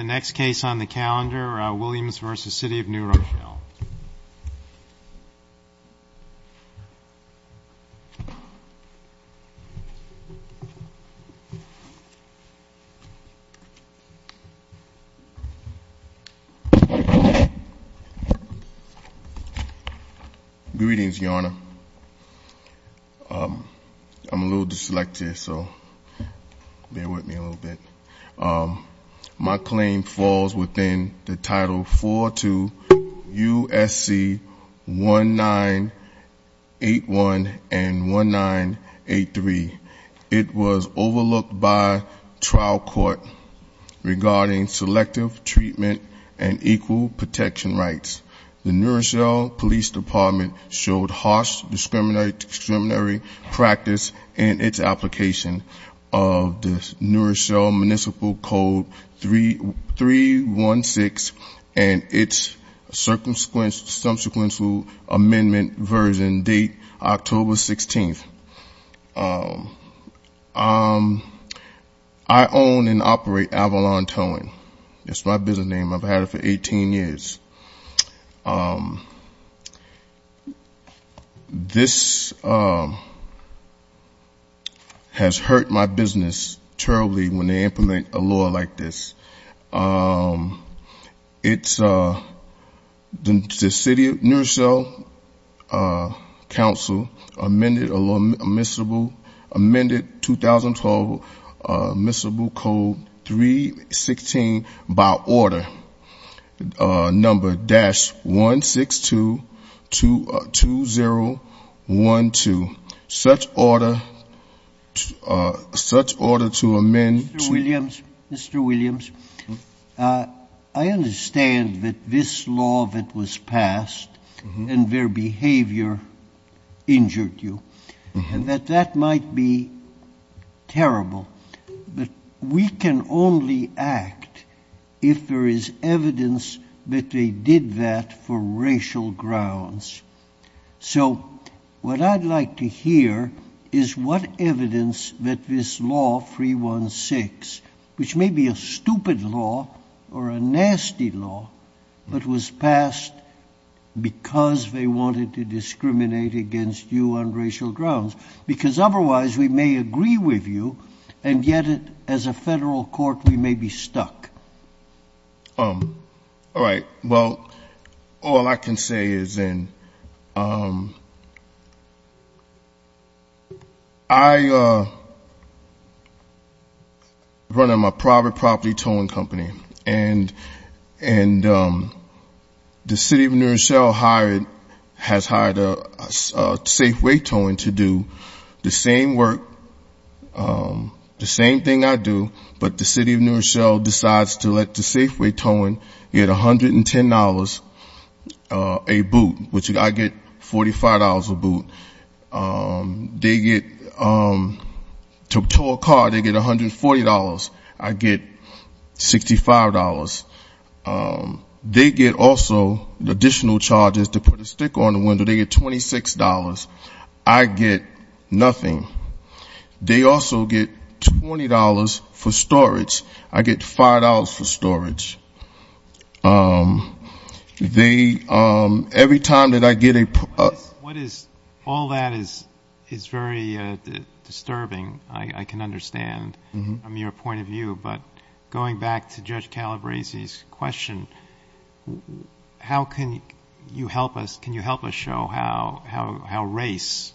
Greetings, Your Honor. I'm a little dyslexic, so bear with me a little bit. My claim falls within the Title 4-2 U.S.C. 1981 and 1983. It was overlooked by trial court regarding selective treatment and equal protection rights. The New Rochelle Police Department showed harsh discriminatory practice in its application of the New Rochelle Municipal Code 316 and its subsequential amendment version date October 16. I own and operate Avalon Towing. That's my business name. I've had it for 18 years. This has hurt my business terribly when they implement a law like this. The City of New Rochelle Council amended 2012 Municipal Code 316 by Order No.-1622012. Such order to amend to- that that might be terrible. But we can only act if there is evidence that they did that for racial grounds. So what I'd like to hear is what evidence that this law 316, which may be a stupid law or a nasty law, but was passed because they wanted to discriminate against you on racial grounds. Because otherwise we may agree with you, and yet as a federal court we may be stuck. All right. Well, all I can say is I run a private property towing company. And the City of New Rochelle has hired Safeway Towing to do the same work, the same thing I do, but the City of New Rochelle decides to let the Safeway Towing get $110 a boot, which additional charge is to put a stick on the window. They get $26. I get nothing. They also get $20 for storage. I get $5 for storage. They- every time that I get a- What is- all that is very disturbing, I can understand, from your point of view. But going back to Judge Calabresi's question, how can you help us- can you help us show how race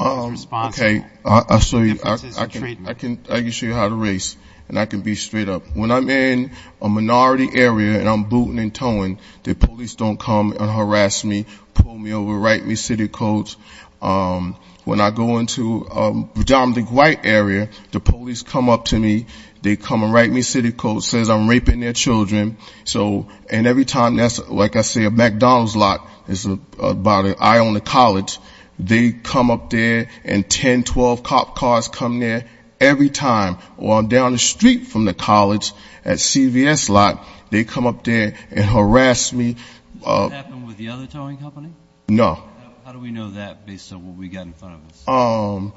is responsible? Okay. I'll show you. I can show you how to race, and I can be straight up. When I'm in a minority area and I'm booting and towing, the police don't come and harass me, pull me over, write me city codes. When I go into a predominantly white area, the police come up to me, they come and write me city codes, says I'm raping their children. So- and every time that's- like I say, a McDonald's lot is about an eye on the college. They come up there and 10, 12 cop cars come there every time. Or I'm down the street from the college at CVS lot, they come up there and harass me. Does that happen with the other towing company? No. How do we know that based on what we got in front of us? Well,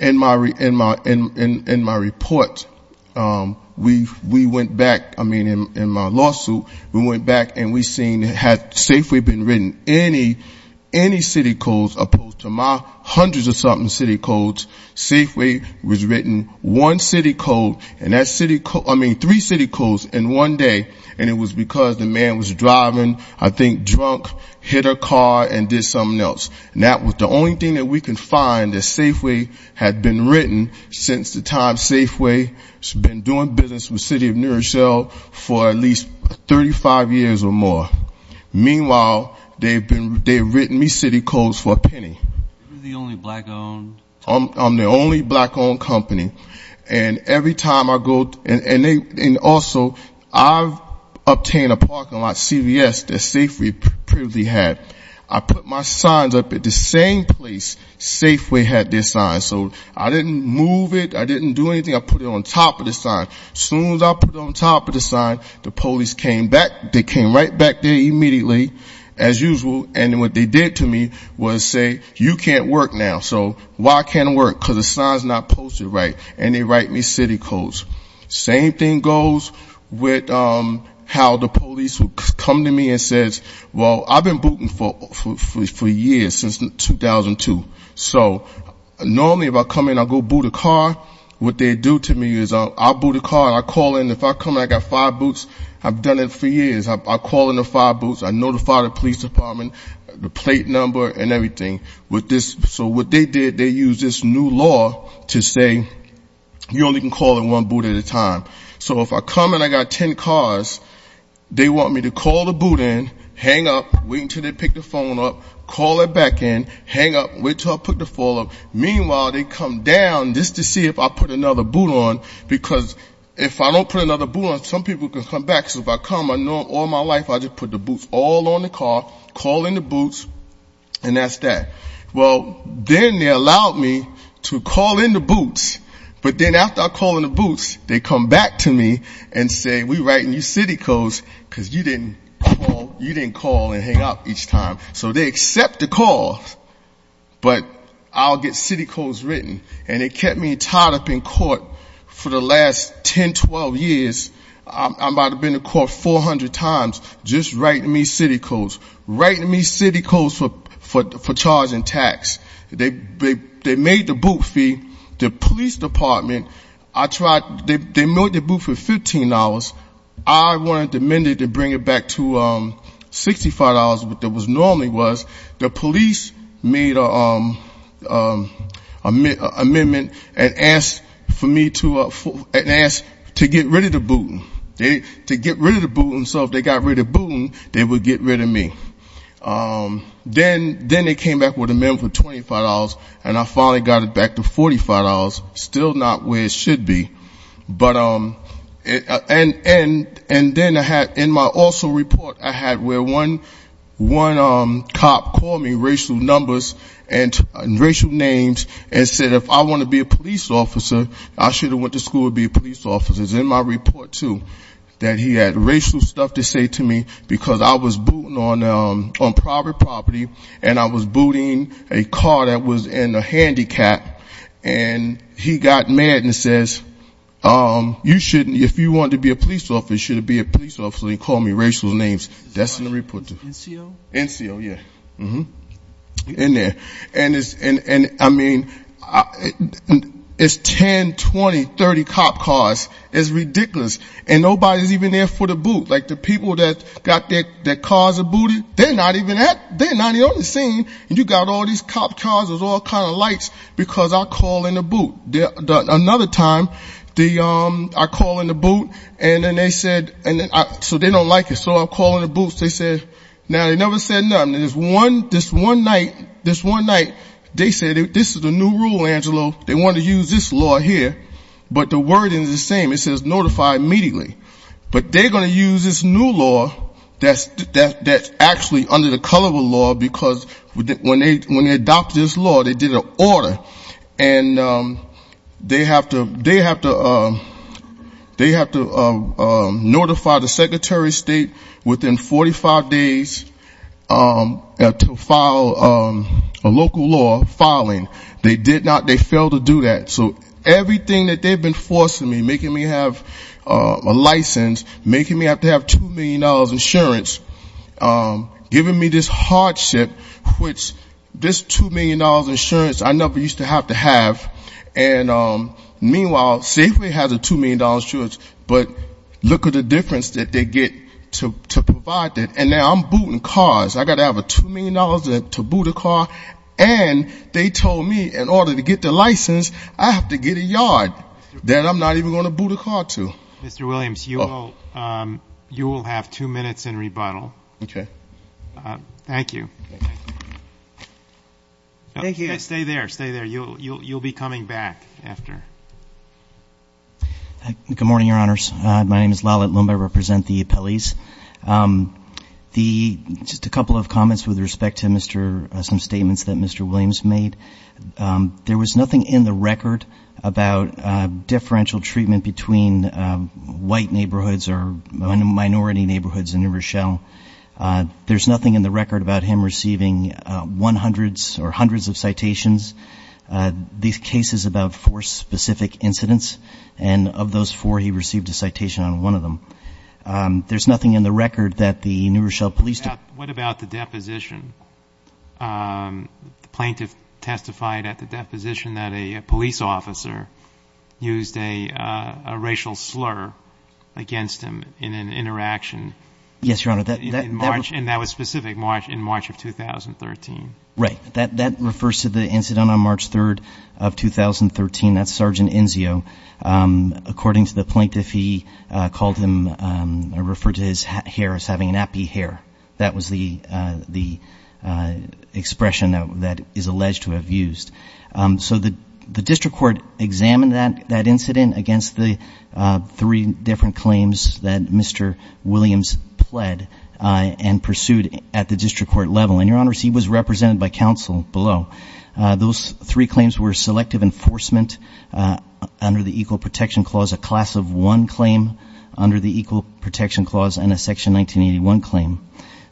in my report, we went back- I mean, in my lawsuit, we went back and we seen, had Safeway been written any city codes, opposed to my hundreds of something city codes, Safeway was written one city code, and that city code- I mean, three city codes in one day, and it was because the man was driving, I think drunk, hit a car, and did something else. And that was the only thing that we could find that Safeway had been written since the time Safeway has been doing business with City of New Rochelle for at least 35 years or more. Meanwhile, they've been- they've written me city codes for a penny. You're the only black-owned- I'm the only black-owned company. And every time I go- and they- and also, I've obtained a parking lot CVS that Safeway previously had. I put my signs up at the same place Safeway had their signs, so I didn't move it, I didn't do anything, I put it on top of the sign. Soon as I put it on top of the sign, the police came back- they came right back there immediately, as usual, and what they did to me was say, you can't work now. So, why can't I work? Because the sign's not posted right. And they write me city codes. Same thing goes with how the police come to me and says, well, I've been booting for years, since 2002. So, normally if I come in, I go boot a car. What they do to me is I boot a car, I call in, if I come in, I got five boots, I've done it for years. I call in the five boots, I notify the police department, the plate number, and everything. With this- so what they did, they used this new law to say, you only can call in one boot at a time. So, if I come and I got ten cars, they want me to call the boot in, hang up, wait until they pick the phone up, call it back in, hang up, wait until I put the phone up. Meanwhile, they come down just to see if I put another boot on, because if I don't put another boot on, some people can come back. So, if I come, I know all my life I just put the boots all on the car, call in the boots, and that's that. Well, then they allowed me to call in the boots, but then after I call in the boots, they come back to me and say, we're writing you city codes, because you didn't call and hang up each time. So, they accept the call, but I'll get city codes written. And it kept me tied up in court for the last ten, twelve years. I might have been in court 400 times just writing me city codes, writing me city codes for charging tax. They made the boot fee. The police department, I tried, they made the boot for $15. I wanted to amend it to bring it back to $65, what it was normally was. The police made an amendment and asked for me to, and asked to get ready for the boot. To get rid of the boot, so if they got rid of the boot, they would get rid of me. Then they came back with an amendment for $25, and I finally got it back to $45, still not where it should be. But, and then I had, in my also report, I had where one cop called me racial numbers and racial names and said, if I want to be a police officer, I should want to school to be a police officer. It's in my report, too, that he had racial stuff to say to me because I was booting on private property, and I was booting a car that was in a handicap, and he got mad and says, you shouldn't, if you want to be a police officer, you should be a police officer, and he called me racial names. That's in the report, too. NCO? NCO, yeah. In there. And it's, and I mean, it's ten, twenty, twenty, twenty years ago with 30 cop cars. It's ridiculous. And nobody's even there for the boot. Like, the people that got their cars booted, they're not even at, they're not even on the scene, and you got all these cop cars with all kinds of lights because I call in the boot. Another time, the, I call in the boot, and then they said, so they don't like it, so I call in the boot, they said, now they never said nothing. This one, this one night, this one night, they said, this is the new rule, Angelo. They want to use this law here, but the wording is the same. It says notify immediately. But they're going to use this new law that's actually under the color of a law because when they adopted this law, they did an order, and they have to, they have to, they have to notify the Secretary of State within 45 days to file a local law filing. They did not, they failed to do that. So everything that they've been forcing me, making me have a license, making me have to have $2 million insurance, giving me this hardship, which this $2 million insurance, I never used to have to have, and meanwhile, Safeway has a $2 million insurance, but look at the difference that they get to provide that, and now I'm booting cars. I've got to have a $2 million to boot a car, and they told me in order to get the license, I have to get a yard that I'm not even going to boot a car to. Mr. Williams, you will have two minutes in rebuttal. Okay. Thank you. Thank you. Stay there, stay there. You'll be coming back after. Good morning, Your Honors. My name is Lalit Lumba. I represent the appellees. The, just a couple of comments with respect to Mr., some statements that Mr. Williams made. There was nothing in the record about differential treatment between white neighborhoods or minority neighborhoods in New Rochelle. There's nothing in the record about him receiving 100s or more of four specific incidents, and of those four, he received a citation on one of them. There's nothing in the record that the New Rochelle Police Department... What about the deposition? The plaintiff testified at the deposition that a police officer used a racial slur against him in an interaction in March, and that was specific March, in March of 2013. Right. That refers to the incident on March 3rd of 2013. That's Sergeant Inzio. According to the plaintiff, he called him, referred to his hair as having an appy hair. That was the expression that is alleged to have used. So the district court examined that incident against the three different claims that Mr. Williams pled and pursued at the district court level, and, Your Honor, he was represented by counsel below. Those three claims were selective enforcement under the Equal Protection Clause, a Class of 1 claim under the Equal Protection Clause, and a Section 1981 claim.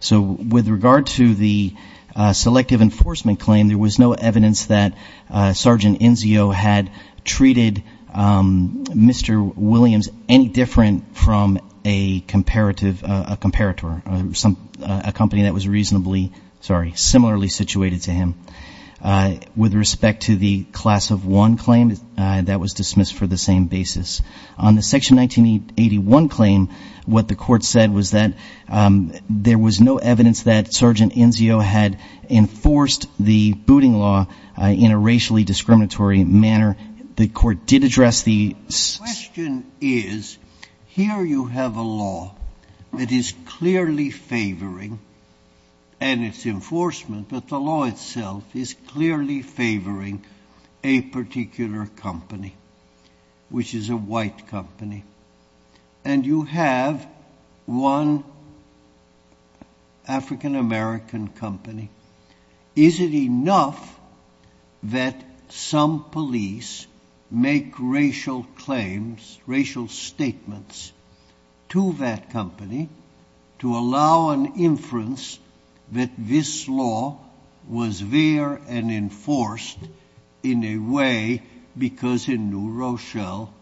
So with regard to the selective enforcement claim, there was no evidence that Sergeant Inzio had treated Mr. Williams any different from a comparator, a company that was reasonably – sorry, similarly situated to him. With respect to the Class of 1 claim, that was dismissed for the same basis. On the Section 1981 claim, what the court said was that there was no evidence that Sergeant Inzio had enforced the booting law in a racially discriminatory manner. The court did address the – The question is, here you have a law that is clearly favoring, and it's enforcement, but the law itself is clearly favoring a particular company, which is a white company, and you have one African-American company. Is it enough that some police make racial claims that are racial statements to that company to allow an inference that this law was there and enforced in a way because in New Rochelle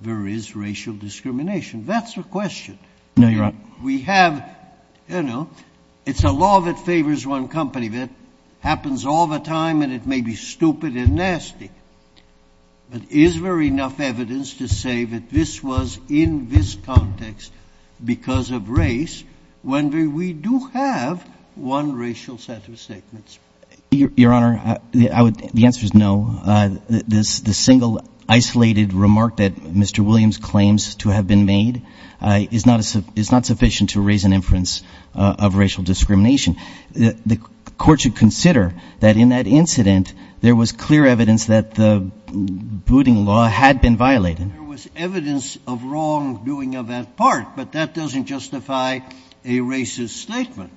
there is racial discrimination? That's the question. No, Your Honor. We have – it's a law that favors one company that happens all the time, and it may be stupid and nasty, but is there enough evidence to say that this was in this context because of race when we do have one racial set of statements? Your Honor, the answer is no. The single isolated remark that Mr. Williams claims to have been made is not sufficient to raise an inference of racial discrimination. The court should have clear evidence that the booting law had been violated. There was evidence of wrongdoing of that part, but that doesn't justify a racist statement.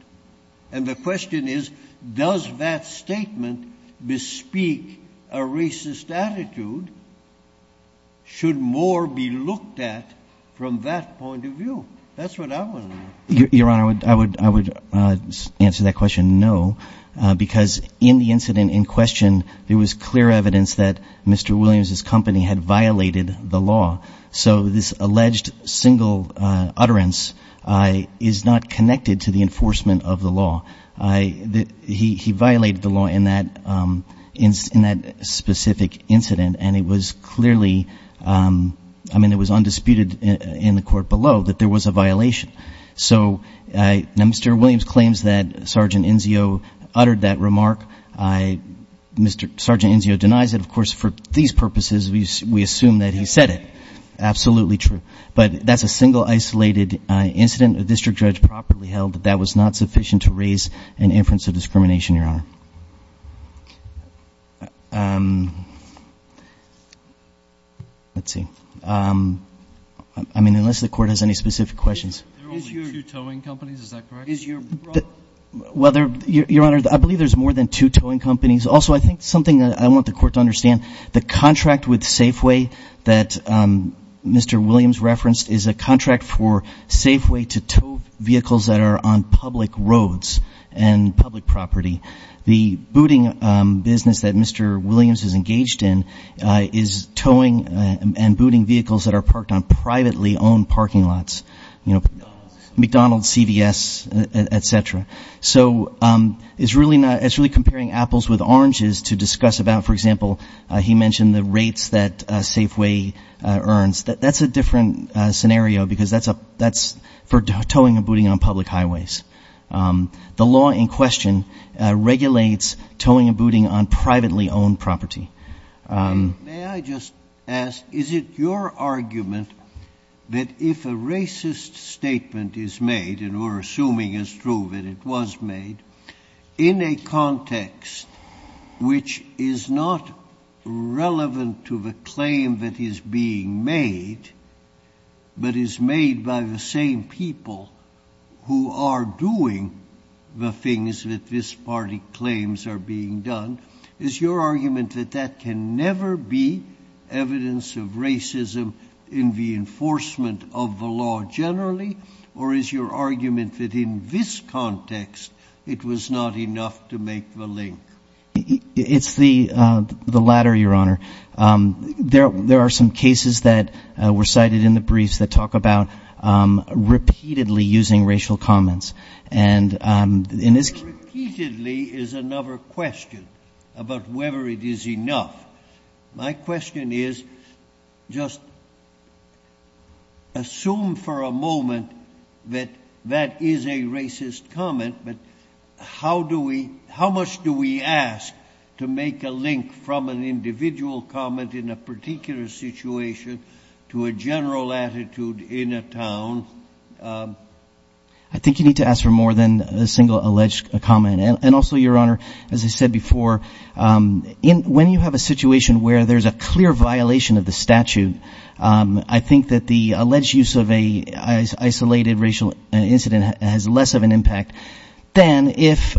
And the question is, does that statement bespeak a racist attitude? Should more be looked at from that point of view? That's what I want to know. Your Honor, I would answer that question no, because in the incident in question, there was clear evidence that Mr. Williams's company had violated the law. So this alleged single utterance is not connected to the enforcement of the law. He violated the law in that specific incident, and it was clearly – I mean, it was undisputed in the court below that there was a violation. So now Mr. Williams claims that Sergeant Inzio uttered that remark. Sergeant Inzio denies it. Of course, for these purposes, we assume that he said it. Absolutely true. But that's a single isolated incident. A district judge properly held that that was not sufficient to raise an inference of discrimination, Your Honor. Let's see. I mean, unless the Court has any specific questions. Your Honor, I believe there's more than two towing companies. Also, I think something I want the Court to understand, the contract with Safeway that Mr. Williams referenced is a contract for Safeway to tow vehicles that are on public roads and public property. The booting business that Mr. Williams is engaged in is towing and booting vehicles that are parked on privately owned parking lots, you know, McDonald's, CVS, et cetera. So it's really comparing apples with oranges to discuss about, for example, he mentioned the rates that Safeway earns. That's a different scenario because that's for towing and booting on public highways. The law in question regulates towing and booting on privately owned property. May I just ask, is it your argument that if a racist statement is made, and we're assuming it's true that it was made, in a context which is not relevant to the claim that is being made, but is made by the same people who are doing the things that this party claims are being done, is your argument that that can never be evidence of racism in the enforcement of the law generally, or is your argument that in this context it was not enough to make the link? It's the latter, Your Honor. There are some cases that were cited in the briefs that talk about repeatedly using racial comments. Repeatedly is another question about whether it is enough. My question is, just assume for a moment that that is a racist comment, but how much do we ask to make a link from an individual comment in a particular situation to a general attitude in a town? I think you need to ask for more than a single alleged comment. And also, Your Honor, as I said before, when you have a situation where there's a clear violation of the statute, I think that the alleged use of an isolated racial incident has less of an impact than if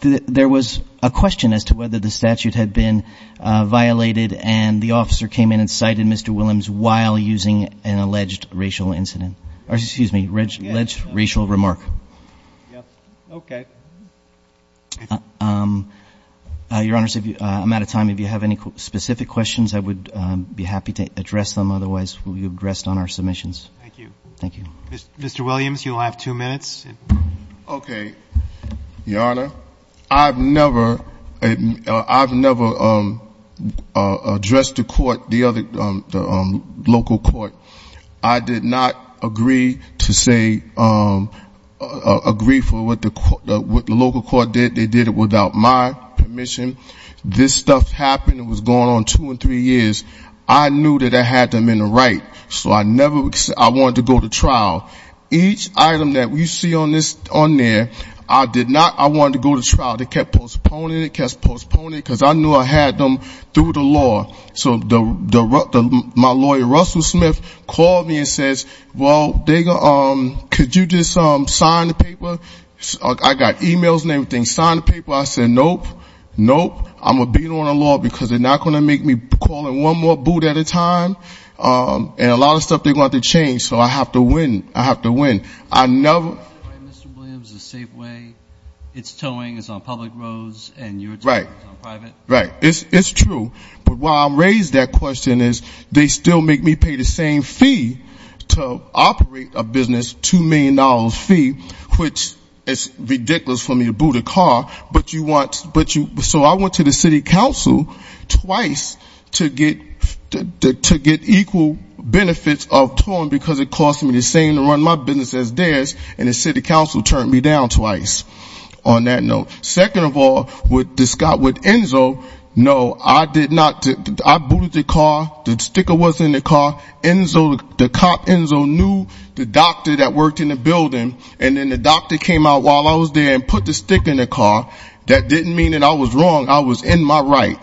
there was a question as to whether the statute had been violated and the officer came in and cited Mr. Williams while using an alleged racial incident, or excuse me, alleged racial remark. Yes. Okay. Your Honors, I'm out of time. If you have any specific questions, I would be happy to address them. Otherwise, we'll be addressed on our submissions. Thank you. Thank you. Mr. Williams, you'll have two minutes. Okay. Your Honor, I've never addressed the court, the local court. I did not agree to say, agree for what the local court did. They did it without my permission. This stuff happened. It was going on two or three years. I knew that I had them in the right, so I wanted to go to trial. Each item that you see on there, I did not, I wanted to go to trial. They kept postponing it, kept postponing it because I knew I had them through the law. So my lawyer, Russell Smith, called me and says, well, could you just sign the paper? I got emails and everything. Sign the paper. I said, nope, nope. I'm going to beat on the law because they're not going to make me call in one more boot at a time. And a lot of times I have to win. So I have to win. I have to win. I never... Mr. Williams, the Safeway, its towing is on public roads and your towing is on private? Right. It's true. But why I'm raised that question is they still make me pay the same fee to operate a business, $2 million fee, which is ridiculous for me to boot a car. But you want, but you, so I went to the city council twice to get equal benefits of towing because it cost me the same to run my business as theirs and the city council turned me down twice. On that note. Second of all, with Enzo, no, I did not, I booted the car, the sticker was in the car. Enzo, the cop Enzo knew the doctor that worked in the building and then the doctor came out while I was there and put the sticker in the car. That didn't mean that I was wrong. I was in my right.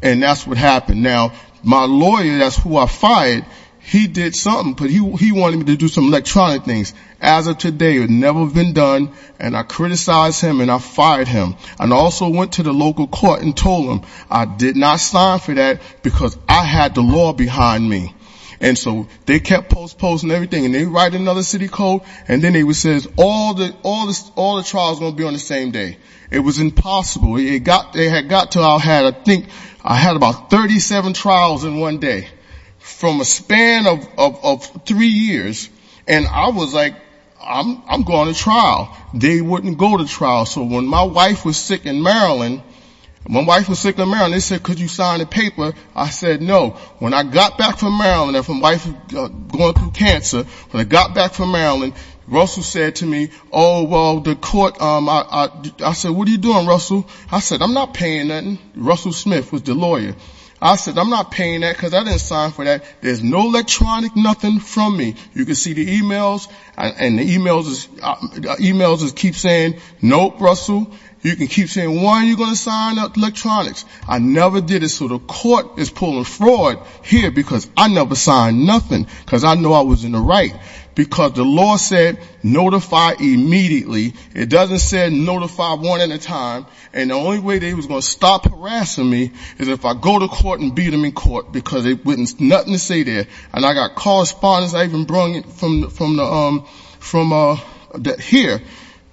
And that's what happened. Now, my lawyer, that's who I fired, he did something, but he wanted me to do some electronic things. As of today, it had never been done and I criticized him and I fired him. And I also went to the local court and told them I did not sign for that because I had the law behind me. And so they kept postposing everything and they write another city code and then it says all the trials are going to be on the same day. It was impossible. It had got to, I think I had about 37 trials in one day. From a span of three years. And I was like, I'm going to trial. They wouldn't go to trial. So when my wife was sick in Maryland, my wife was sick in Maryland, they said could you sign the paper? I said no. When I got back from Maryland, my wife was going through cancer, when I got back from Maryland, Russell said to me, oh, well, the court, I said what are you doing, Russell? I said I'm not paying nothing. Russell Smith was the lawyer. I said I'm not paying that because I didn't sign for that. There's no electronic nothing from me. You can see the e-mails and the e-mails just keep saying, nope, Russell. You can keep saying, why are you going to sign up electronics? I never did it. So the court is pulling fraud here because I never signed nothing because I knew I was in the right. Because the law said notify immediately. It doesn't say notify one at a time. And the only way they was going to stop harassing me is if I go to court and beat them in court because they witnessed nothing to say there. And I got correspondence, I even brung it from here.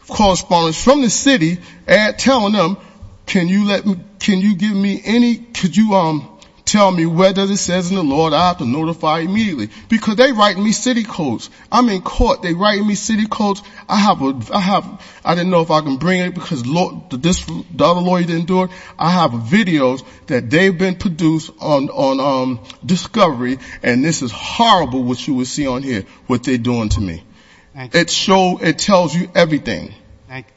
Correspondence from the city telling them, can you give me any, could you tell me where does it say in the law that I have to notify immediately? Because they write me city codes. I'm in court. They write me city codes. I didn't know if I could bring it because the law says I have videos that they've been produced on discovery and this is horrible what you would see on here, what they're doing to me. It shows, it tells you everything.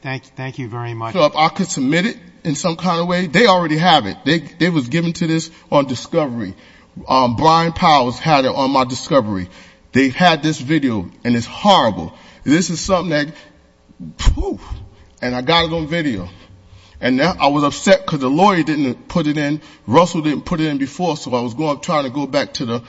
Thank you very much. So if I could submit it in some kind of way, they already have it. They was given to this on discovery. Brian Powers had it on my discovery. They had this video and it's horrible. This is something that, phew, and I got it on video. And I was upset because the lawyer didn't put it in. Russell didn't put it in before so I was trying to go back to the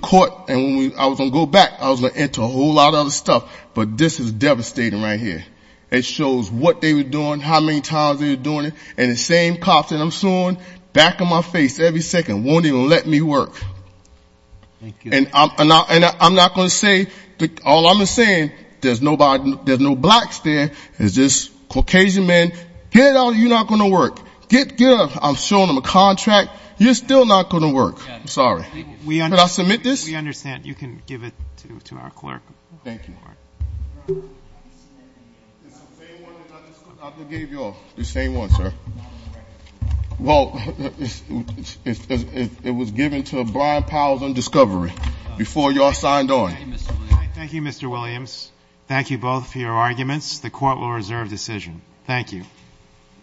court and when I was going to go back, I was going to enter a whole lot of other stuff. But this is devastating right here. It shows what they were doing, how many times they were doing it. And the same cops that I'm suing, back of my face every second, they won't even let me work. Thank you. And I'm not going to say, all I'm saying, there's no blacks there, it's just Caucasian men, get out of here, you're not going to work. Get up. I'm showing them a contract, you're still not going to work. Sorry. Can I submit this? We understand. You can give it to our clerk. Thank you. It's the same one that I just gave y'all. The same one, sir. Well, it was given to Brian Powell on discovery, before y'all signed on. Thank you, Mr. Williams. Thank you both for your arguments. The court will reserve decision. Thank you.